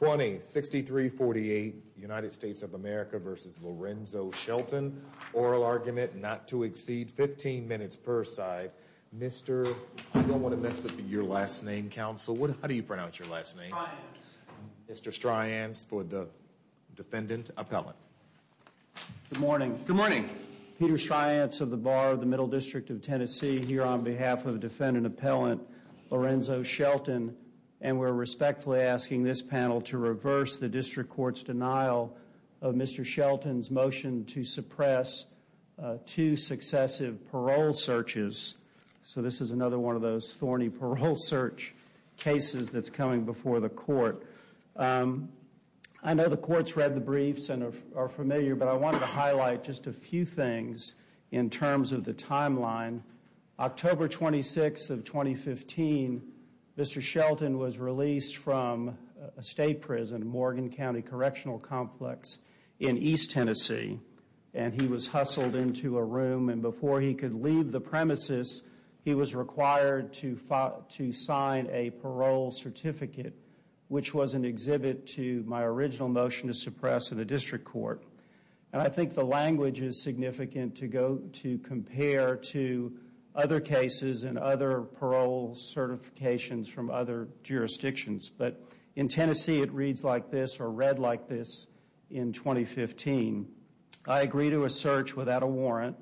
20-63-48 United States of America v. Lorenzo Shelton. Oral argument not to exceed 15 minutes per side. Mr. I don't want to mess up your last name counsel. What how do you pronounce your last name? Mr. Stryance for the defendant appellant. Good morning. Good morning. Peter Stryance of the Bar of the Middle District of Tennessee here on behalf of defendant appellant Lorenzo Shelton and we're respectfully asking this panel to reverse the district court's denial of Mr. Shelton's motion to suppress two successive parole searches. So this is another one of those thorny parole search cases that's coming before the court. I know the court's read the briefs and are familiar but I wanted to highlight just a few things in terms of the timeline. October 26 of 2015 Mr. Shelton was released from a state prison Morgan County Correctional Complex in East Tennessee and he was hustled into a room and before he could leave the premises he was required to sign a parole certificate which was an exhibit to my original motion to compare to other cases and other parole certifications from other jurisdictions but in Tennessee it reads like this or read like this in 2015. I agree to a search without a warrant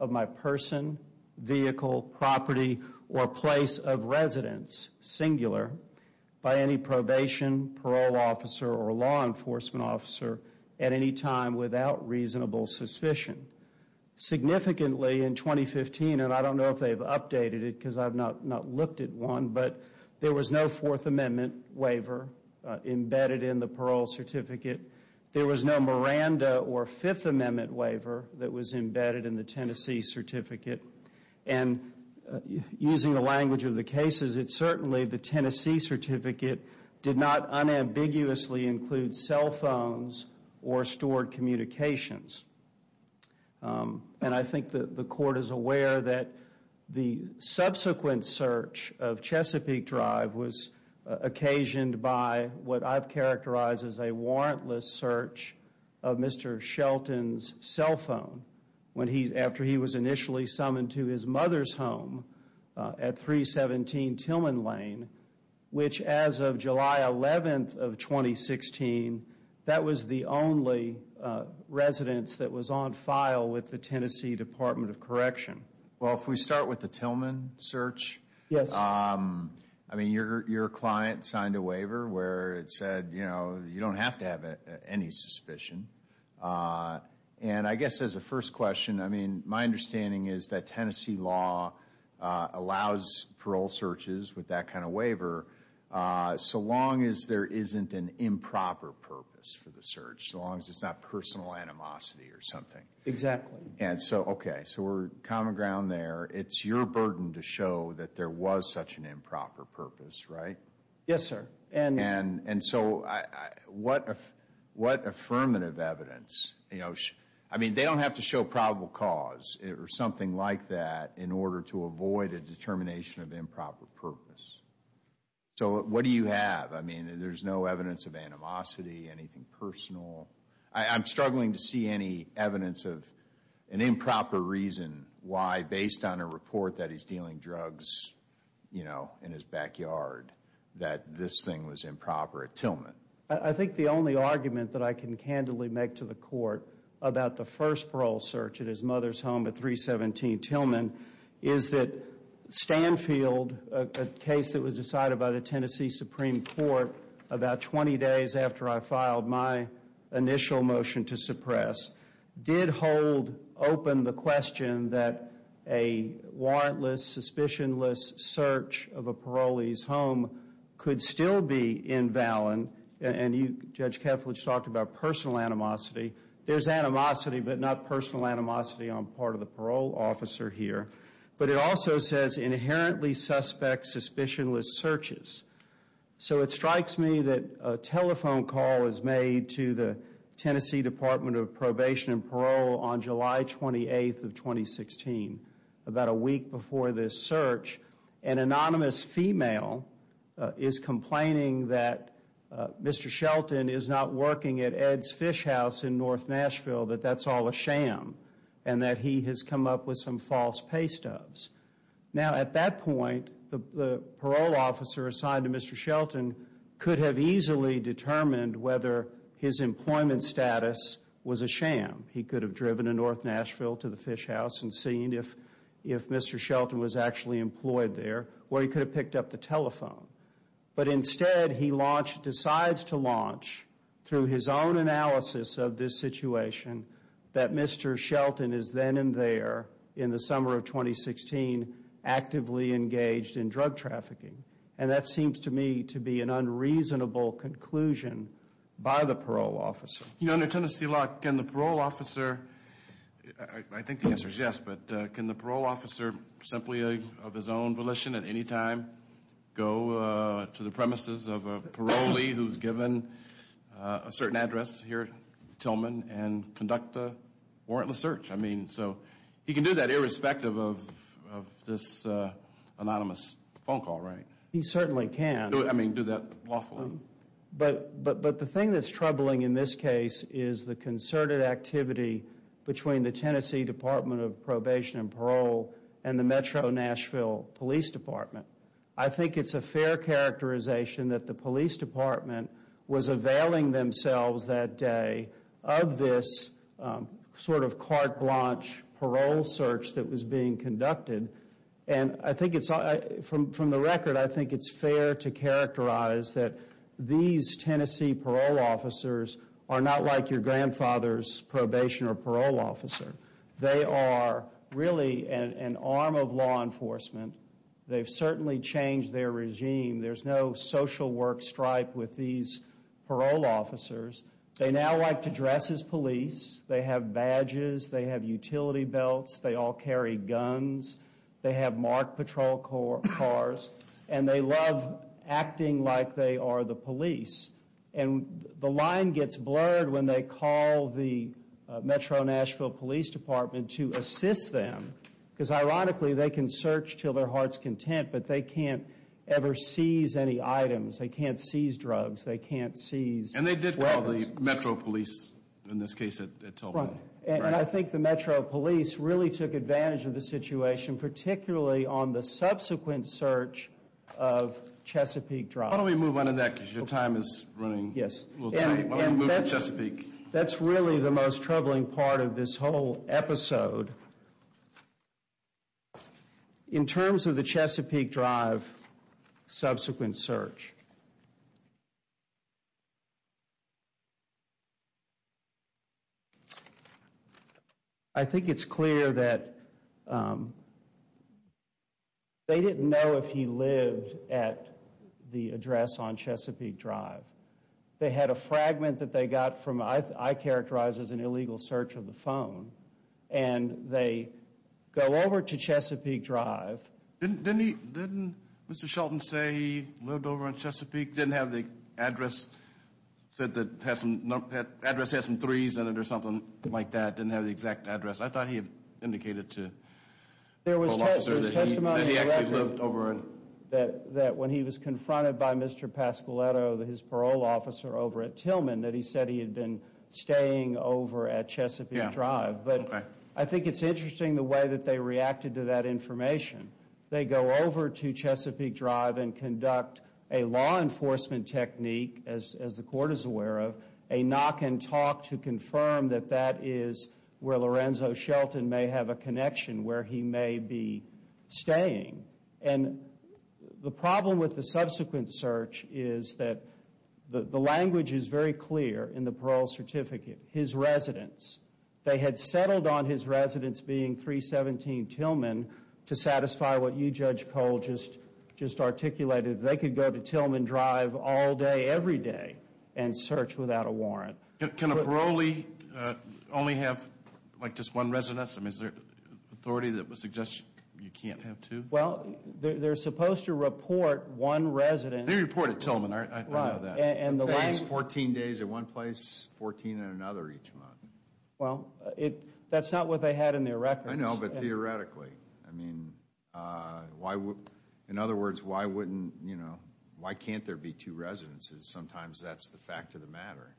of my person vehicle property or place of residence singular by any probation parole officer or law enforcement officer at any time without reasonable suspicion. Significantly in 2015 and I don't know if they've updated it because I've not not looked at one but there was no fourth amendment waiver embedded in the parole certificate. There was no Miranda or fifth amendment waiver that was embedded in the Tennessee certificate and using the language of the cases it certainly the Tennessee certificate did not unambiguously include cell phones or stored communications and I think that the court is aware that the subsequent search of Chesapeake Drive was occasioned by what I've characterized as a warrantless search of Mr. Shelton's cell phone when he after he was initially summoned to his mother's home at 317 Tillman Lane which as of July 11th of 2016 that was the only residence that was on file with the Tennessee Department of Correction. Well if we start with the Tillman search. Yes. I mean your client signed a waiver where it said you know you don't have to have any suspicion and I guess as a first question I mean my understanding is that Tennessee law allows parole searches with that kind of waiver so long as there isn't an improper purpose for the search so long as it's not personal animosity or something. Exactly. And so okay so we're common ground there it's your burden to show that there was such an improper purpose right? Yes sir. And so what affirmative evidence you know I mean they don't have to show probable cause or something like that in order to avoid a determination of improper purpose so what do you have I mean there's no evidence of animosity anything personal I'm struggling to see any evidence of an improper reason why based on a you know in his backyard that this thing was improper at Tillman. I think the only argument that I can candidly make to the court about the first parole search at his mother's home at 317 Tillman is that Stanfield a case that was decided by the Tennessee Supreme Court about 20 days after I filed my initial motion to suppress did hold open the question that a warrantless suspicion search of a parolee's home could still be invalid and you Judge Keflich talked about personal animosity there's animosity but not personal animosity on part of the parole officer here but it also says inherently suspect suspicionless searches. So it strikes me that a telephone call is made to the Tennessee Department of Probation and Parole on July 28th of 2016 about a week before this search an anonymous female is complaining that Mr. Shelton is not working at Ed's fish house in North Nashville that that's all a sham and that he has come up with some false pay stubs. Now at that point the parole officer assigned to Mr. Shelton could have easily determined whether his employment status was a sham. He could have driven to North Nashville to the fish house and seen if if Mr. Shelton was actually employed there or he could have picked up the telephone but instead he launched decides to launch through his own analysis of this situation that Mr. Shelton is then and there in the summer of 2016 actively engaged in drug trafficking and that seems to me to be an unreasonable conclusion by the parole officer. You know under Tennessee law can the parole officer, I think the answer is yes, but can the parole officer simply of his own volition at any time go to the premises of a parolee who's given a certain address here at Tillman and conduct a warrantless search? I mean so he can do that irrespective of of this anonymous phone call right? He certainly can. I mean do that lawfully. But but but the thing that's troubling in this case is the concerted activity between the Tennessee Department of Probation and Parole and the Metro Nashville Police Department. I think it's a fair characterization that the police department was availing themselves that day of this sort of carte blanche parole search that was being conducted and I think it's from from the record I think it's fair to characterize that these Tennessee parole officers are not like your grandfather's probation or parole officer. They are really an arm of law enforcement. They've certainly changed their regime. There's no social work stripe with these parole officers. They now like to dress as police. They have badges. They have utility belts. They all carry guns. They have marked patrol cars and they love acting like they are the police. And the line gets blurred when they call the Metro Nashville Police Department to assist them because ironically they can search till their heart's content but they can't ever seize any items. They can't seize drugs. They can't seize. And they did call the Metro Police in this case. And I think the Metro Police really took advantage of the situation particularly on the subsequent search of Chesapeake Drive. Why don't we move on to that because your time is running. Yes. We'll move to Chesapeake. That's really the most troubling part of this whole episode in terms of the Chesapeake Drive subsequent search. I think it's clear that they didn't know if he lived at the address on Chesapeake Drive. They had a fragment that they and they go over to Chesapeake Drive. Didn't he, didn't Mr. Shelton say he lived over on Chesapeake? Didn't have the address that has some, address has some threes in it or something like that. Didn't have the exact address. I thought he had indicated to the parole officer that he actually lived over. That when he was confronted by Mr. Pascoletto, his parole officer over at But I think it's interesting the way that they reacted to that information. They go over to Chesapeake Drive and conduct a law enforcement technique as the court is aware of. A knock and talk to confirm that that is where Lorenzo Shelton may have a connection where he may be staying. And the problem with the subsequent search is that the language is very clear in the parole certificate. His residence. They had settled on his residence being 317 Tillman to satisfy what you Judge Cole just articulated. They could go to Tillman Drive all day every day and search without a warrant. Can a parolee only have like just one residence? I mean is there authority that would suggest you can't have two? Well they're supposed to report one resident. They reported Tillman. I know that. 14 days at one place, 14 at another each month. Well that's not what they had in their records. I know but theoretically. I mean why would, in other words, why wouldn't, you know, why can't there be two residences? Sometimes that's the fact of the matter.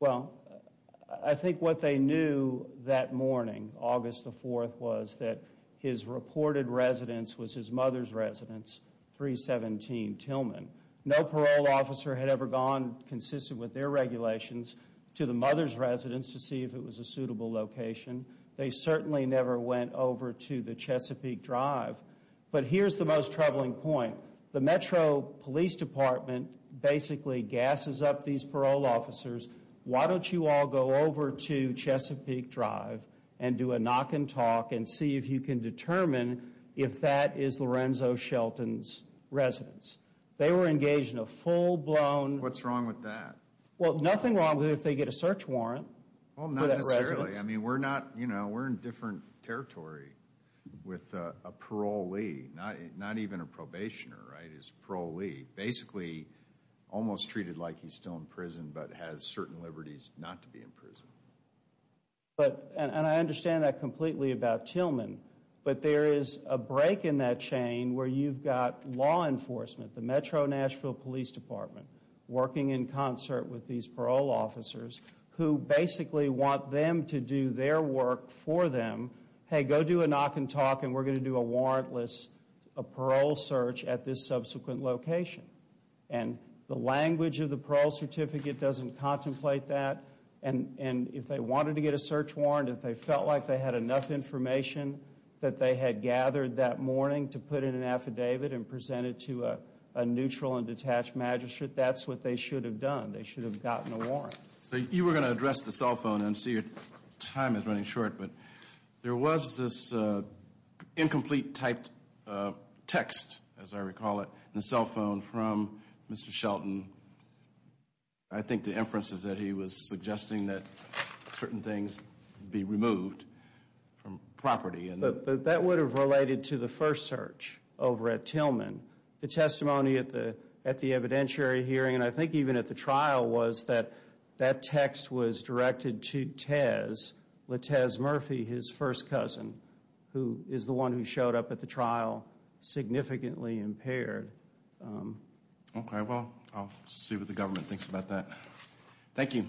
Well I think what they knew that morning, August the 4th, was that his reported residence was his mother's residence, 317 Tillman. No parole officer had ever gone consistent with their regulations to the mother's residence to see if it was a suitable location. They certainly never went over to the Chesapeake Drive. But here's the most troubling point. The Metro Police Department basically gases up these parole officers. Why don't you all go over to Chesapeake Drive and do a knock and talk and see if you can determine if that is Lorenzo Shelton's residence? They were engaged in a full-blown... What's wrong with that? Well nothing wrong with if they get a search warrant. Well not necessarily. I mean we're not, you know, we're in different territory with a parolee. Not even a probationer, right, is parolee. Basically almost treated like he's still in prison but has certain liberties not to be in prison. But, and I understand that completely about Tillman, but there is a break in that chain where you've got law enforcement, the Metro Nashville Police Department, working in concert with these parole officers who basically want them to do their work for them. Hey go do a knock and talk and we're going to do a warrantless, a parole search at this subsequent location. And the language of the parole certificate doesn't contemplate that. And if they wanted to get a search warrant, if they felt like they had enough information that they had gathered that morning to put in an affidavit and present it to a neutral and detached magistrate, that's what they should have done. They should have gotten a warrant. So you were going to address the cell phone and see your time is running short, but there was this incomplete typed text, as I recall it, in the cell phone from Mr. Shelton. I think the inference is that he was suggesting that certain things be removed from property. But that would have related to the first search over at Tillman. The testimony at the at the evidentiary hearing and I think even at the trial was that that text was directed to Tez, LeTez Murphy, his first cousin, who is the one who showed up at the trial significantly impaired. Okay, well I'll see what the government thinks about that. Thank you.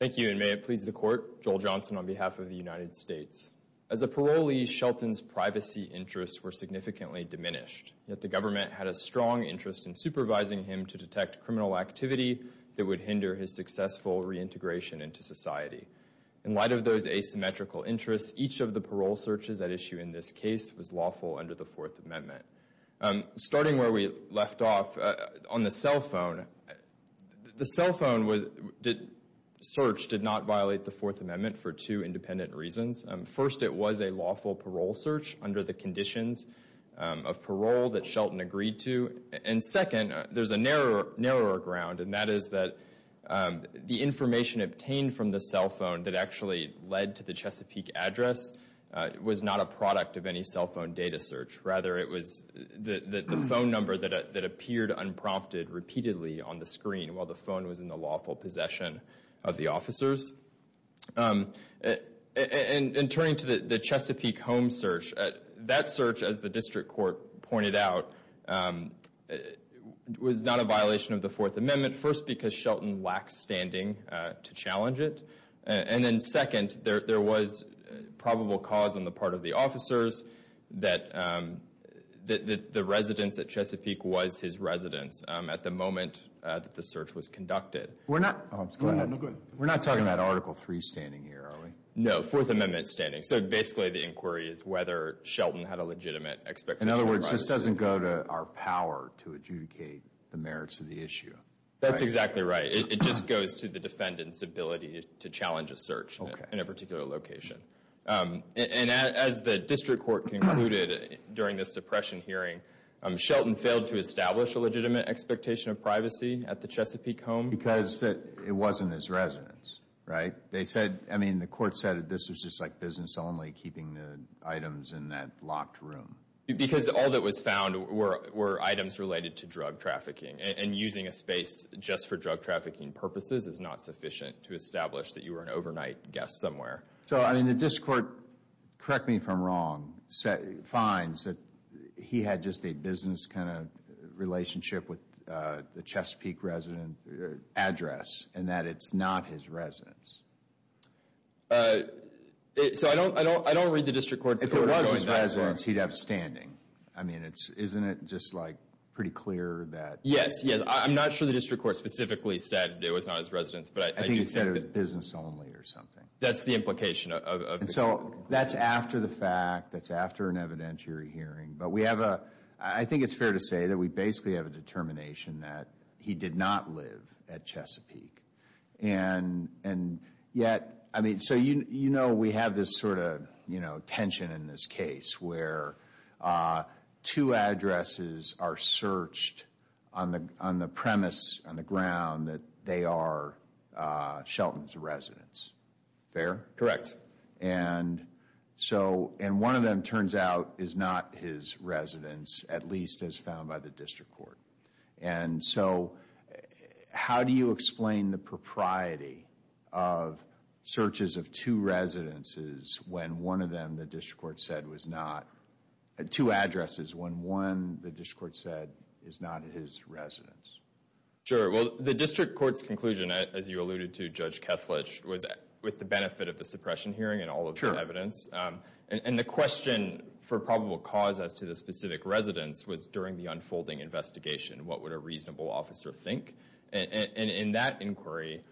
Thank you and may it please the court. Joel Johnson on behalf of the United States. As a parolee, Shelton's privacy interests were significantly diminished, yet the government had a strong interest in supervising him to detect criminal activity that would hinder his successful reintegration into society. In light of those asymmetrical interests, each of the parole searches at issue in this case was lawful under the Fourth Amendment. Starting where we left off, on the cell phone, the cell phone search did not violate the Fourth Amendment for two independent reasons. First, it was a lawful parole search under the conditions of parole that Shelton agreed to. And second, there's a narrower ground and that is that the information obtained from the cell phone that actually led to the Chesapeake address was not a product of any cell phone data search. Rather, it was the phone number that appeared unprompted repeatedly on the screen while the phone was in the lawful possession of the officers. And turning to the Chesapeake home search, that search, as the district court pointed out, was not a violation of the Fourth Amendment. First, because Shelton lacked standing to challenge it. And then second, there was probable cause on the part of the officers that the residence at Chesapeake was his residence at the moment that the search was conducted. We're not, we're not talking about Article 3 standing here, are we? No, Fourth Amendment standing. So basically, the inquiry is whether Shelton had a legitimate expectation. In other words, this doesn't go to our power to adjudicate the merits of the issue. That's exactly right. It just goes to the defendant's ability to challenge a search in a particular location. And as the district court concluded during the suppression hearing, Shelton failed to establish a legitimate expectation of privacy at the Chesapeake home. Because it wasn't his residence, right? They said, I mean, the court said this was just like business only, keeping the items in that locked room. Because all that was found were items related to drug trafficking. And using a space just for drug trafficking purposes is not sufficient to establish that you were an overnight guest somewhere. So, I mean, the district court, correct me if I'm wrong, finds that he had just a business kind of relationship with the Chesapeake resident address and that it's not his residence. So I don't, I don't, I don't read the district court. If it was his residence, he'd have standing. I mean, it's, isn't it just like pretty clear that? Yes, yes. I'm not sure the district court specifically said it was not his residence, but I think he said it was business only or something. That's the implication of. And so that's after the fact, that's after an evidentiary hearing, but we have a, I think it's fair to say that we basically have a determination that he did not live at Chesapeake. And, and yet, I mean, so you, you know, we have this sort of, you know, tension in this case where two addresses are searched on the, on the premise, on the ground that they are Shelton's residence. Fair? Correct. And so, and one of them turns out is not his residence, at least as found by the district court. And so how do you explain the propriety of searches of two residences when one of them the district court said was not, had two addresses when one the district court said is not his residence? Sure. Well, the district court's conclusion, as you alluded to, Judge Kethledge, was with the benefit of the suppression hearing and all of the evidence. And the question for probable cause as to the specific residence was during the unfolding investigation, what would a reasonable officer think? And in that inquiry,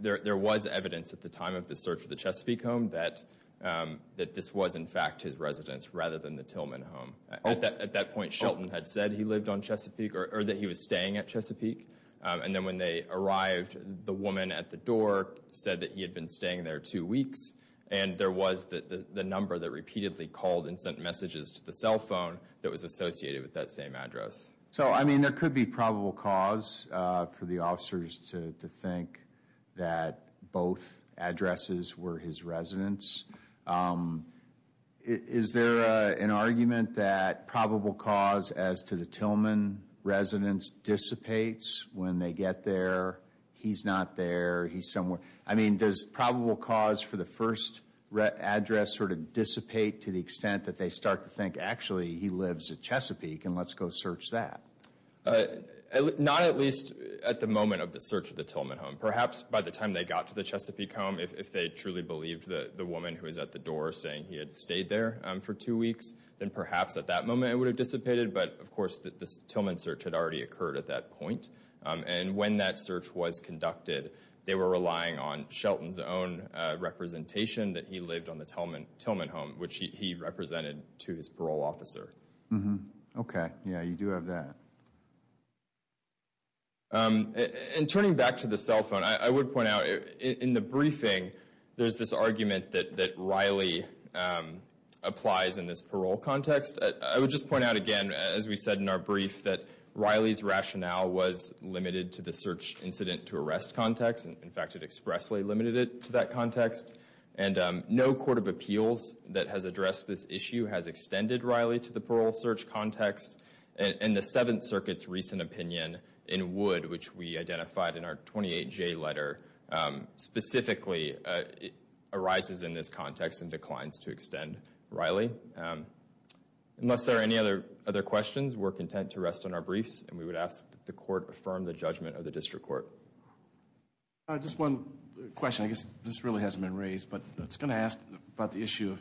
there, there was evidence at the time of the search of the Chesapeake home that, that this was, in fact, his residence rather than the Tillman home. At that, at that point, Shelton had said he lived on Chesapeake or that he was staying at Chesapeake. And then when they arrived, the woman at the door said that he had been staying there two weeks. And there was the, the number that repeatedly called and sent messages to the cell phone that was associated with that same address. So, I mean, there could be probable cause for the officers to think that both addresses were his residence. Is there an argument that probable cause as to the Tillman residence dissipates when they get there? He's not there. He's somewhere. I mean, does probable cause for the first address sort of dissipate to the extent that they start to think, actually, he lives at Chesapeake and let's go search that? Not at least at the moment of the Tillman home. Perhaps by the time they got to the Chesapeake home, if they truly believed the woman who was at the door saying he had stayed there for two weeks, then perhaps at that moment, it would have dissipated. But of course, the Tillman search had already occurred at that point. And when that search was conducted, they were relying on Shelton's own representation that he lived on the Tillman, Tillman home, which he represented to his parole officer. Okay. Yeah, you do have that. In turning back to the cell phone, I would point out in the briefing, there's this argument that Riley applies in this parole context. I would just point out again, as we said in our brief, that Riley's rationale was limited to the search incident to arrest context. In fact, it expressly limited it to that context. And no court of appeals that has addressed this issue has extended Riley to parole search context. And the Seventh Circuit's recent opinion in Wood, which we identified in our 28J letter, specifically arises in this context and declines to extend Riley. Unless there are any other questions, we're content to rest on our briefs. And we would ask that the court affirm the judgment of the district court. Just one question. I guess this really hasn't been raised, but I was going to ask about the issue of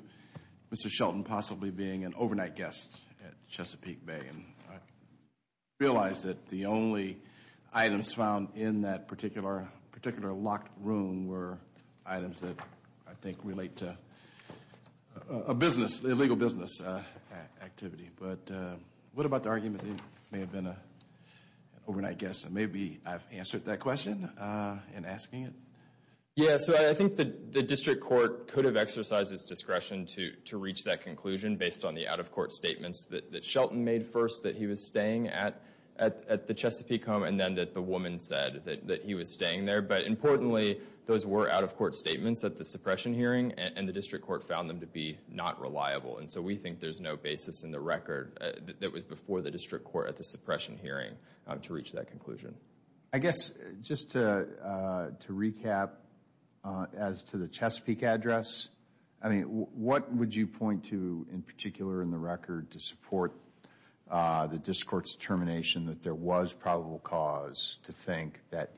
Mr. Shelton possibly being an overnight guest at Chesapeake Bay. And I realized that the only items found in that particular, particular locked room were items that I think relate to a business, illegal business activity. But what about the argument that he may have been an overnight guest? And maybe I've answered that question in asking it. Yeah, so I think the district court could have exercised its discretion to reach that conclusion based on the out-of-court statements that Shelton made first, that he was staying at the Chesapeake home, and then that the woman said that he was staying there. But importantly, those were out-of-court statements at the suppression hearing, and the district court found them to be not reliable. And so we think there's no basis in the record that was before the district court at the suppression hearing to reach that conclusion. I guess just to recap as to the Chesapeake address, I mean, what would you point to in particular in the record to support the district court's determination that there was probable cause to think that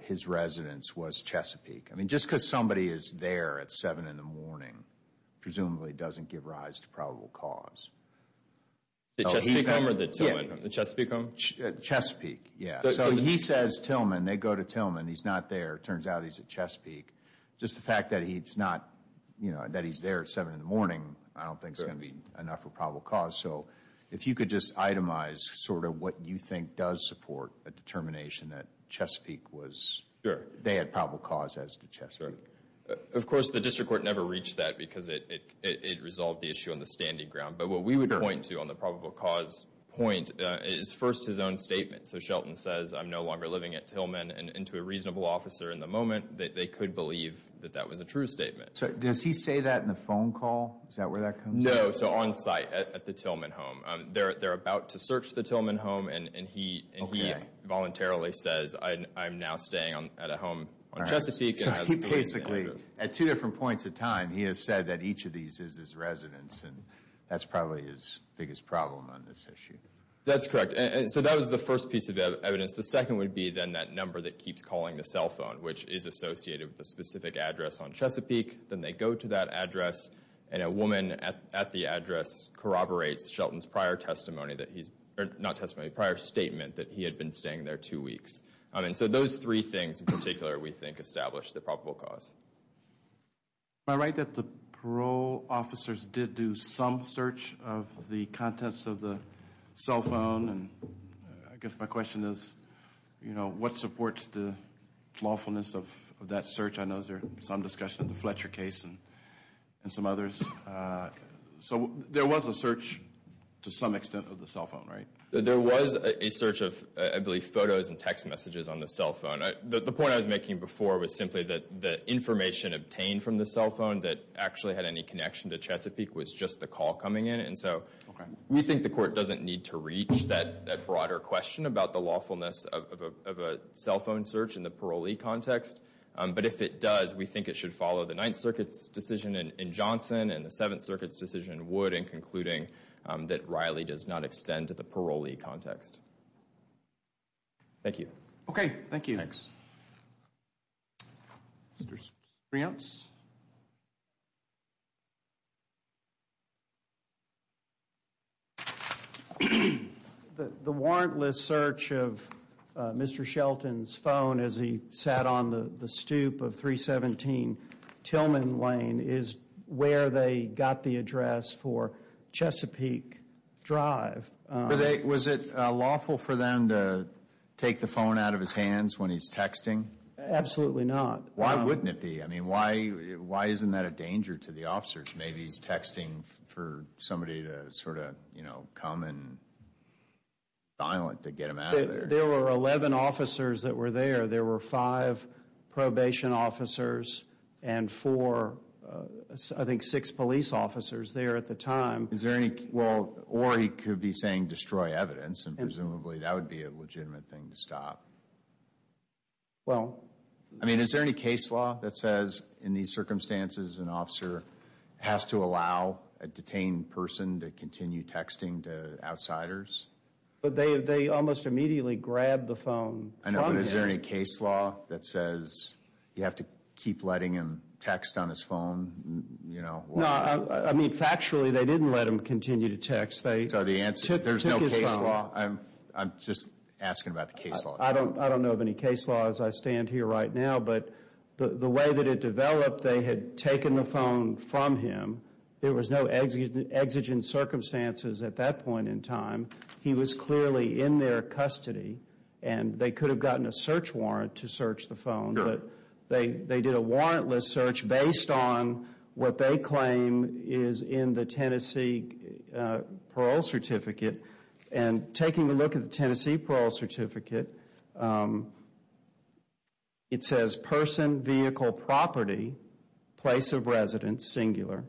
his residence was Chesapeake? I mean, just because somebody is there at seven in the morning presumably doesn't give rise to probable cause. The Chesapeake home or the Tillman home? The Chesapeake home? Chesapeake, yeah. So he says Tillman. They go to Tillman. He's not there. Turns out he's at Chesapeake. Just the fact that he's not, you know, that he's there at seven in the morning, I don't think is going to be enough for probable cause. So if you could just itemize sort of what you think does support a determination that Chesapeake was, they had probable cause as to Chesapeake. Of course, the district court never reached that because it resolved the issue on the standing ground. But what we would point to on the probable cause point is first his own statement. So Shelton says, I'm no longer living at Tillman, and to a reasonable officer in the moment, they could believe that that was a true statement. So does he say that in the phone call? Is that where that comes in? No, so on site at the Tillman home. They're about to search the Tillman home, and he voluntarily says, I'm now staying at a he has said that each of these is his residence, and that's probably his biggest problem on this issue. That's correct, and so that was the first piece of evidence. The second would be then that number that keeps calling the cell phone, which is associated with a specific address on Chesapeake. Then they go to that address, and a woman at the address corroborates Shelton's prior testimony that he's, not testimony, prior statement that he had been staying there two weeks. I mean, so those three things in particular we think establish the probable cause. Am I right that the parole officers did do some search of the contents of the cell phone? And I guess my question is, you know, what supports the lawfulness of that search? I know there's some discussion of the Fletcher case and some others. So there was a search to some extent of the cell phone, right? There was a search of, I believe, photos and text messages on the cell phone. The point I was making before was simply that the information obtained from the cell phone that actually had any connection to Chesapeake was just the call coming in, and so we think the court doesn't need to reach that broader question about the lawfulness of a cell phone search in the parolee context, but if it does, we think it should follow the Ninth Circuit's decision in to the parolee context. Thank you. Okay, thank you. Thanks. Mr. Strayance? The warrantless search of Mr. Shelton's phone as he sat on the stoop of 317 Tillman Lane is where they got the address for Chesapeake Drive. Was it lawful for them to take the phone out of his hands when he's texting? Absolutely not. Why wouldn't it be? I mean, why isn't that a danger to the officers? Maybe he's texting for somebody to sort of, you know, come and violent to get him out of there. There were 11 officers that were there. There were five probation officers and four, I think six police officers there at the time. Is there any, well, or he could be saying destroy evidence, and presumably that would be a legitimate thing to stop. Well. I mean, is there any case law that says in these circumstances an officer has to allow a detained person to continue texting to grab the phone? I know, but is there any case law that says you have to keep letting him text on his phone, you know? No, I mean, factually, they didn't let him continue to text. So the answer, there's no case law. I'm just asking about the case law. I don't know of any case laws. I stand here right now, but the way that it developed, they had taken the phone from him. There was no exigent circumstances at that point in time. He was clearly in their custody, and they could have gotten a search warrant to search the phone, but they did a warrantless search based on what they claim is in the Tennessee parole certificate. And taking a look at the Tennessee parole certificate, it says person, vehicle, property, place of residence, singular.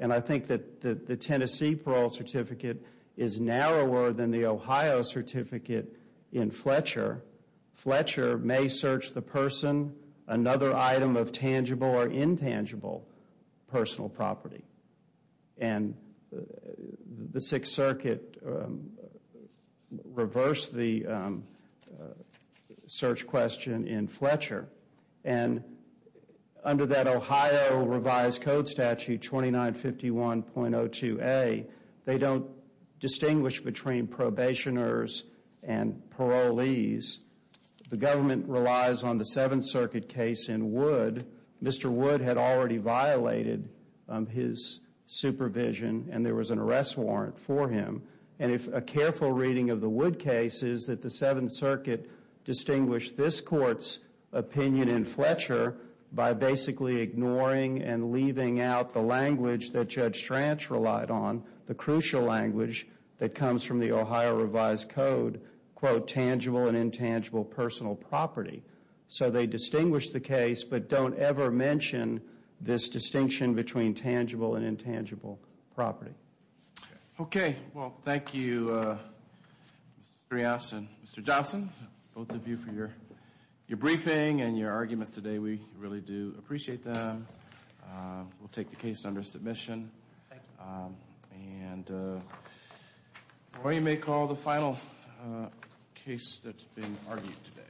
And I think that the Tennessee parole certificate is narrower than the Ohio certificate in Fletcher. Fletcher may search the person, another item of tangible or intangible personal property. And the Sixth Circuit reversed the search question in Fletcher. And under that Ohio revised code statute 2951.02a, they don't distinguish between probationers and parolees. The government relies on the Seventh Circuit case in Wood. Mr. Wood had already violated his supervision, and there was an arrest warrant for him. And if a careful reading of the ignoring and leaving out the language that Judge Stranch relied on, the crucial language that comes from the Ohio revised code, quote, tangible and intangible personal property. So they distinguish the case, but don't ever mention this distinction between tangible and intangible property. Okay. Well, thank you, Mr. Strauss and Mr. Johnson, both of you for your briefing and your arguments today. We really do appreciate them. We'll take the case under submission. And Roy, you may call the final case that's being argued today.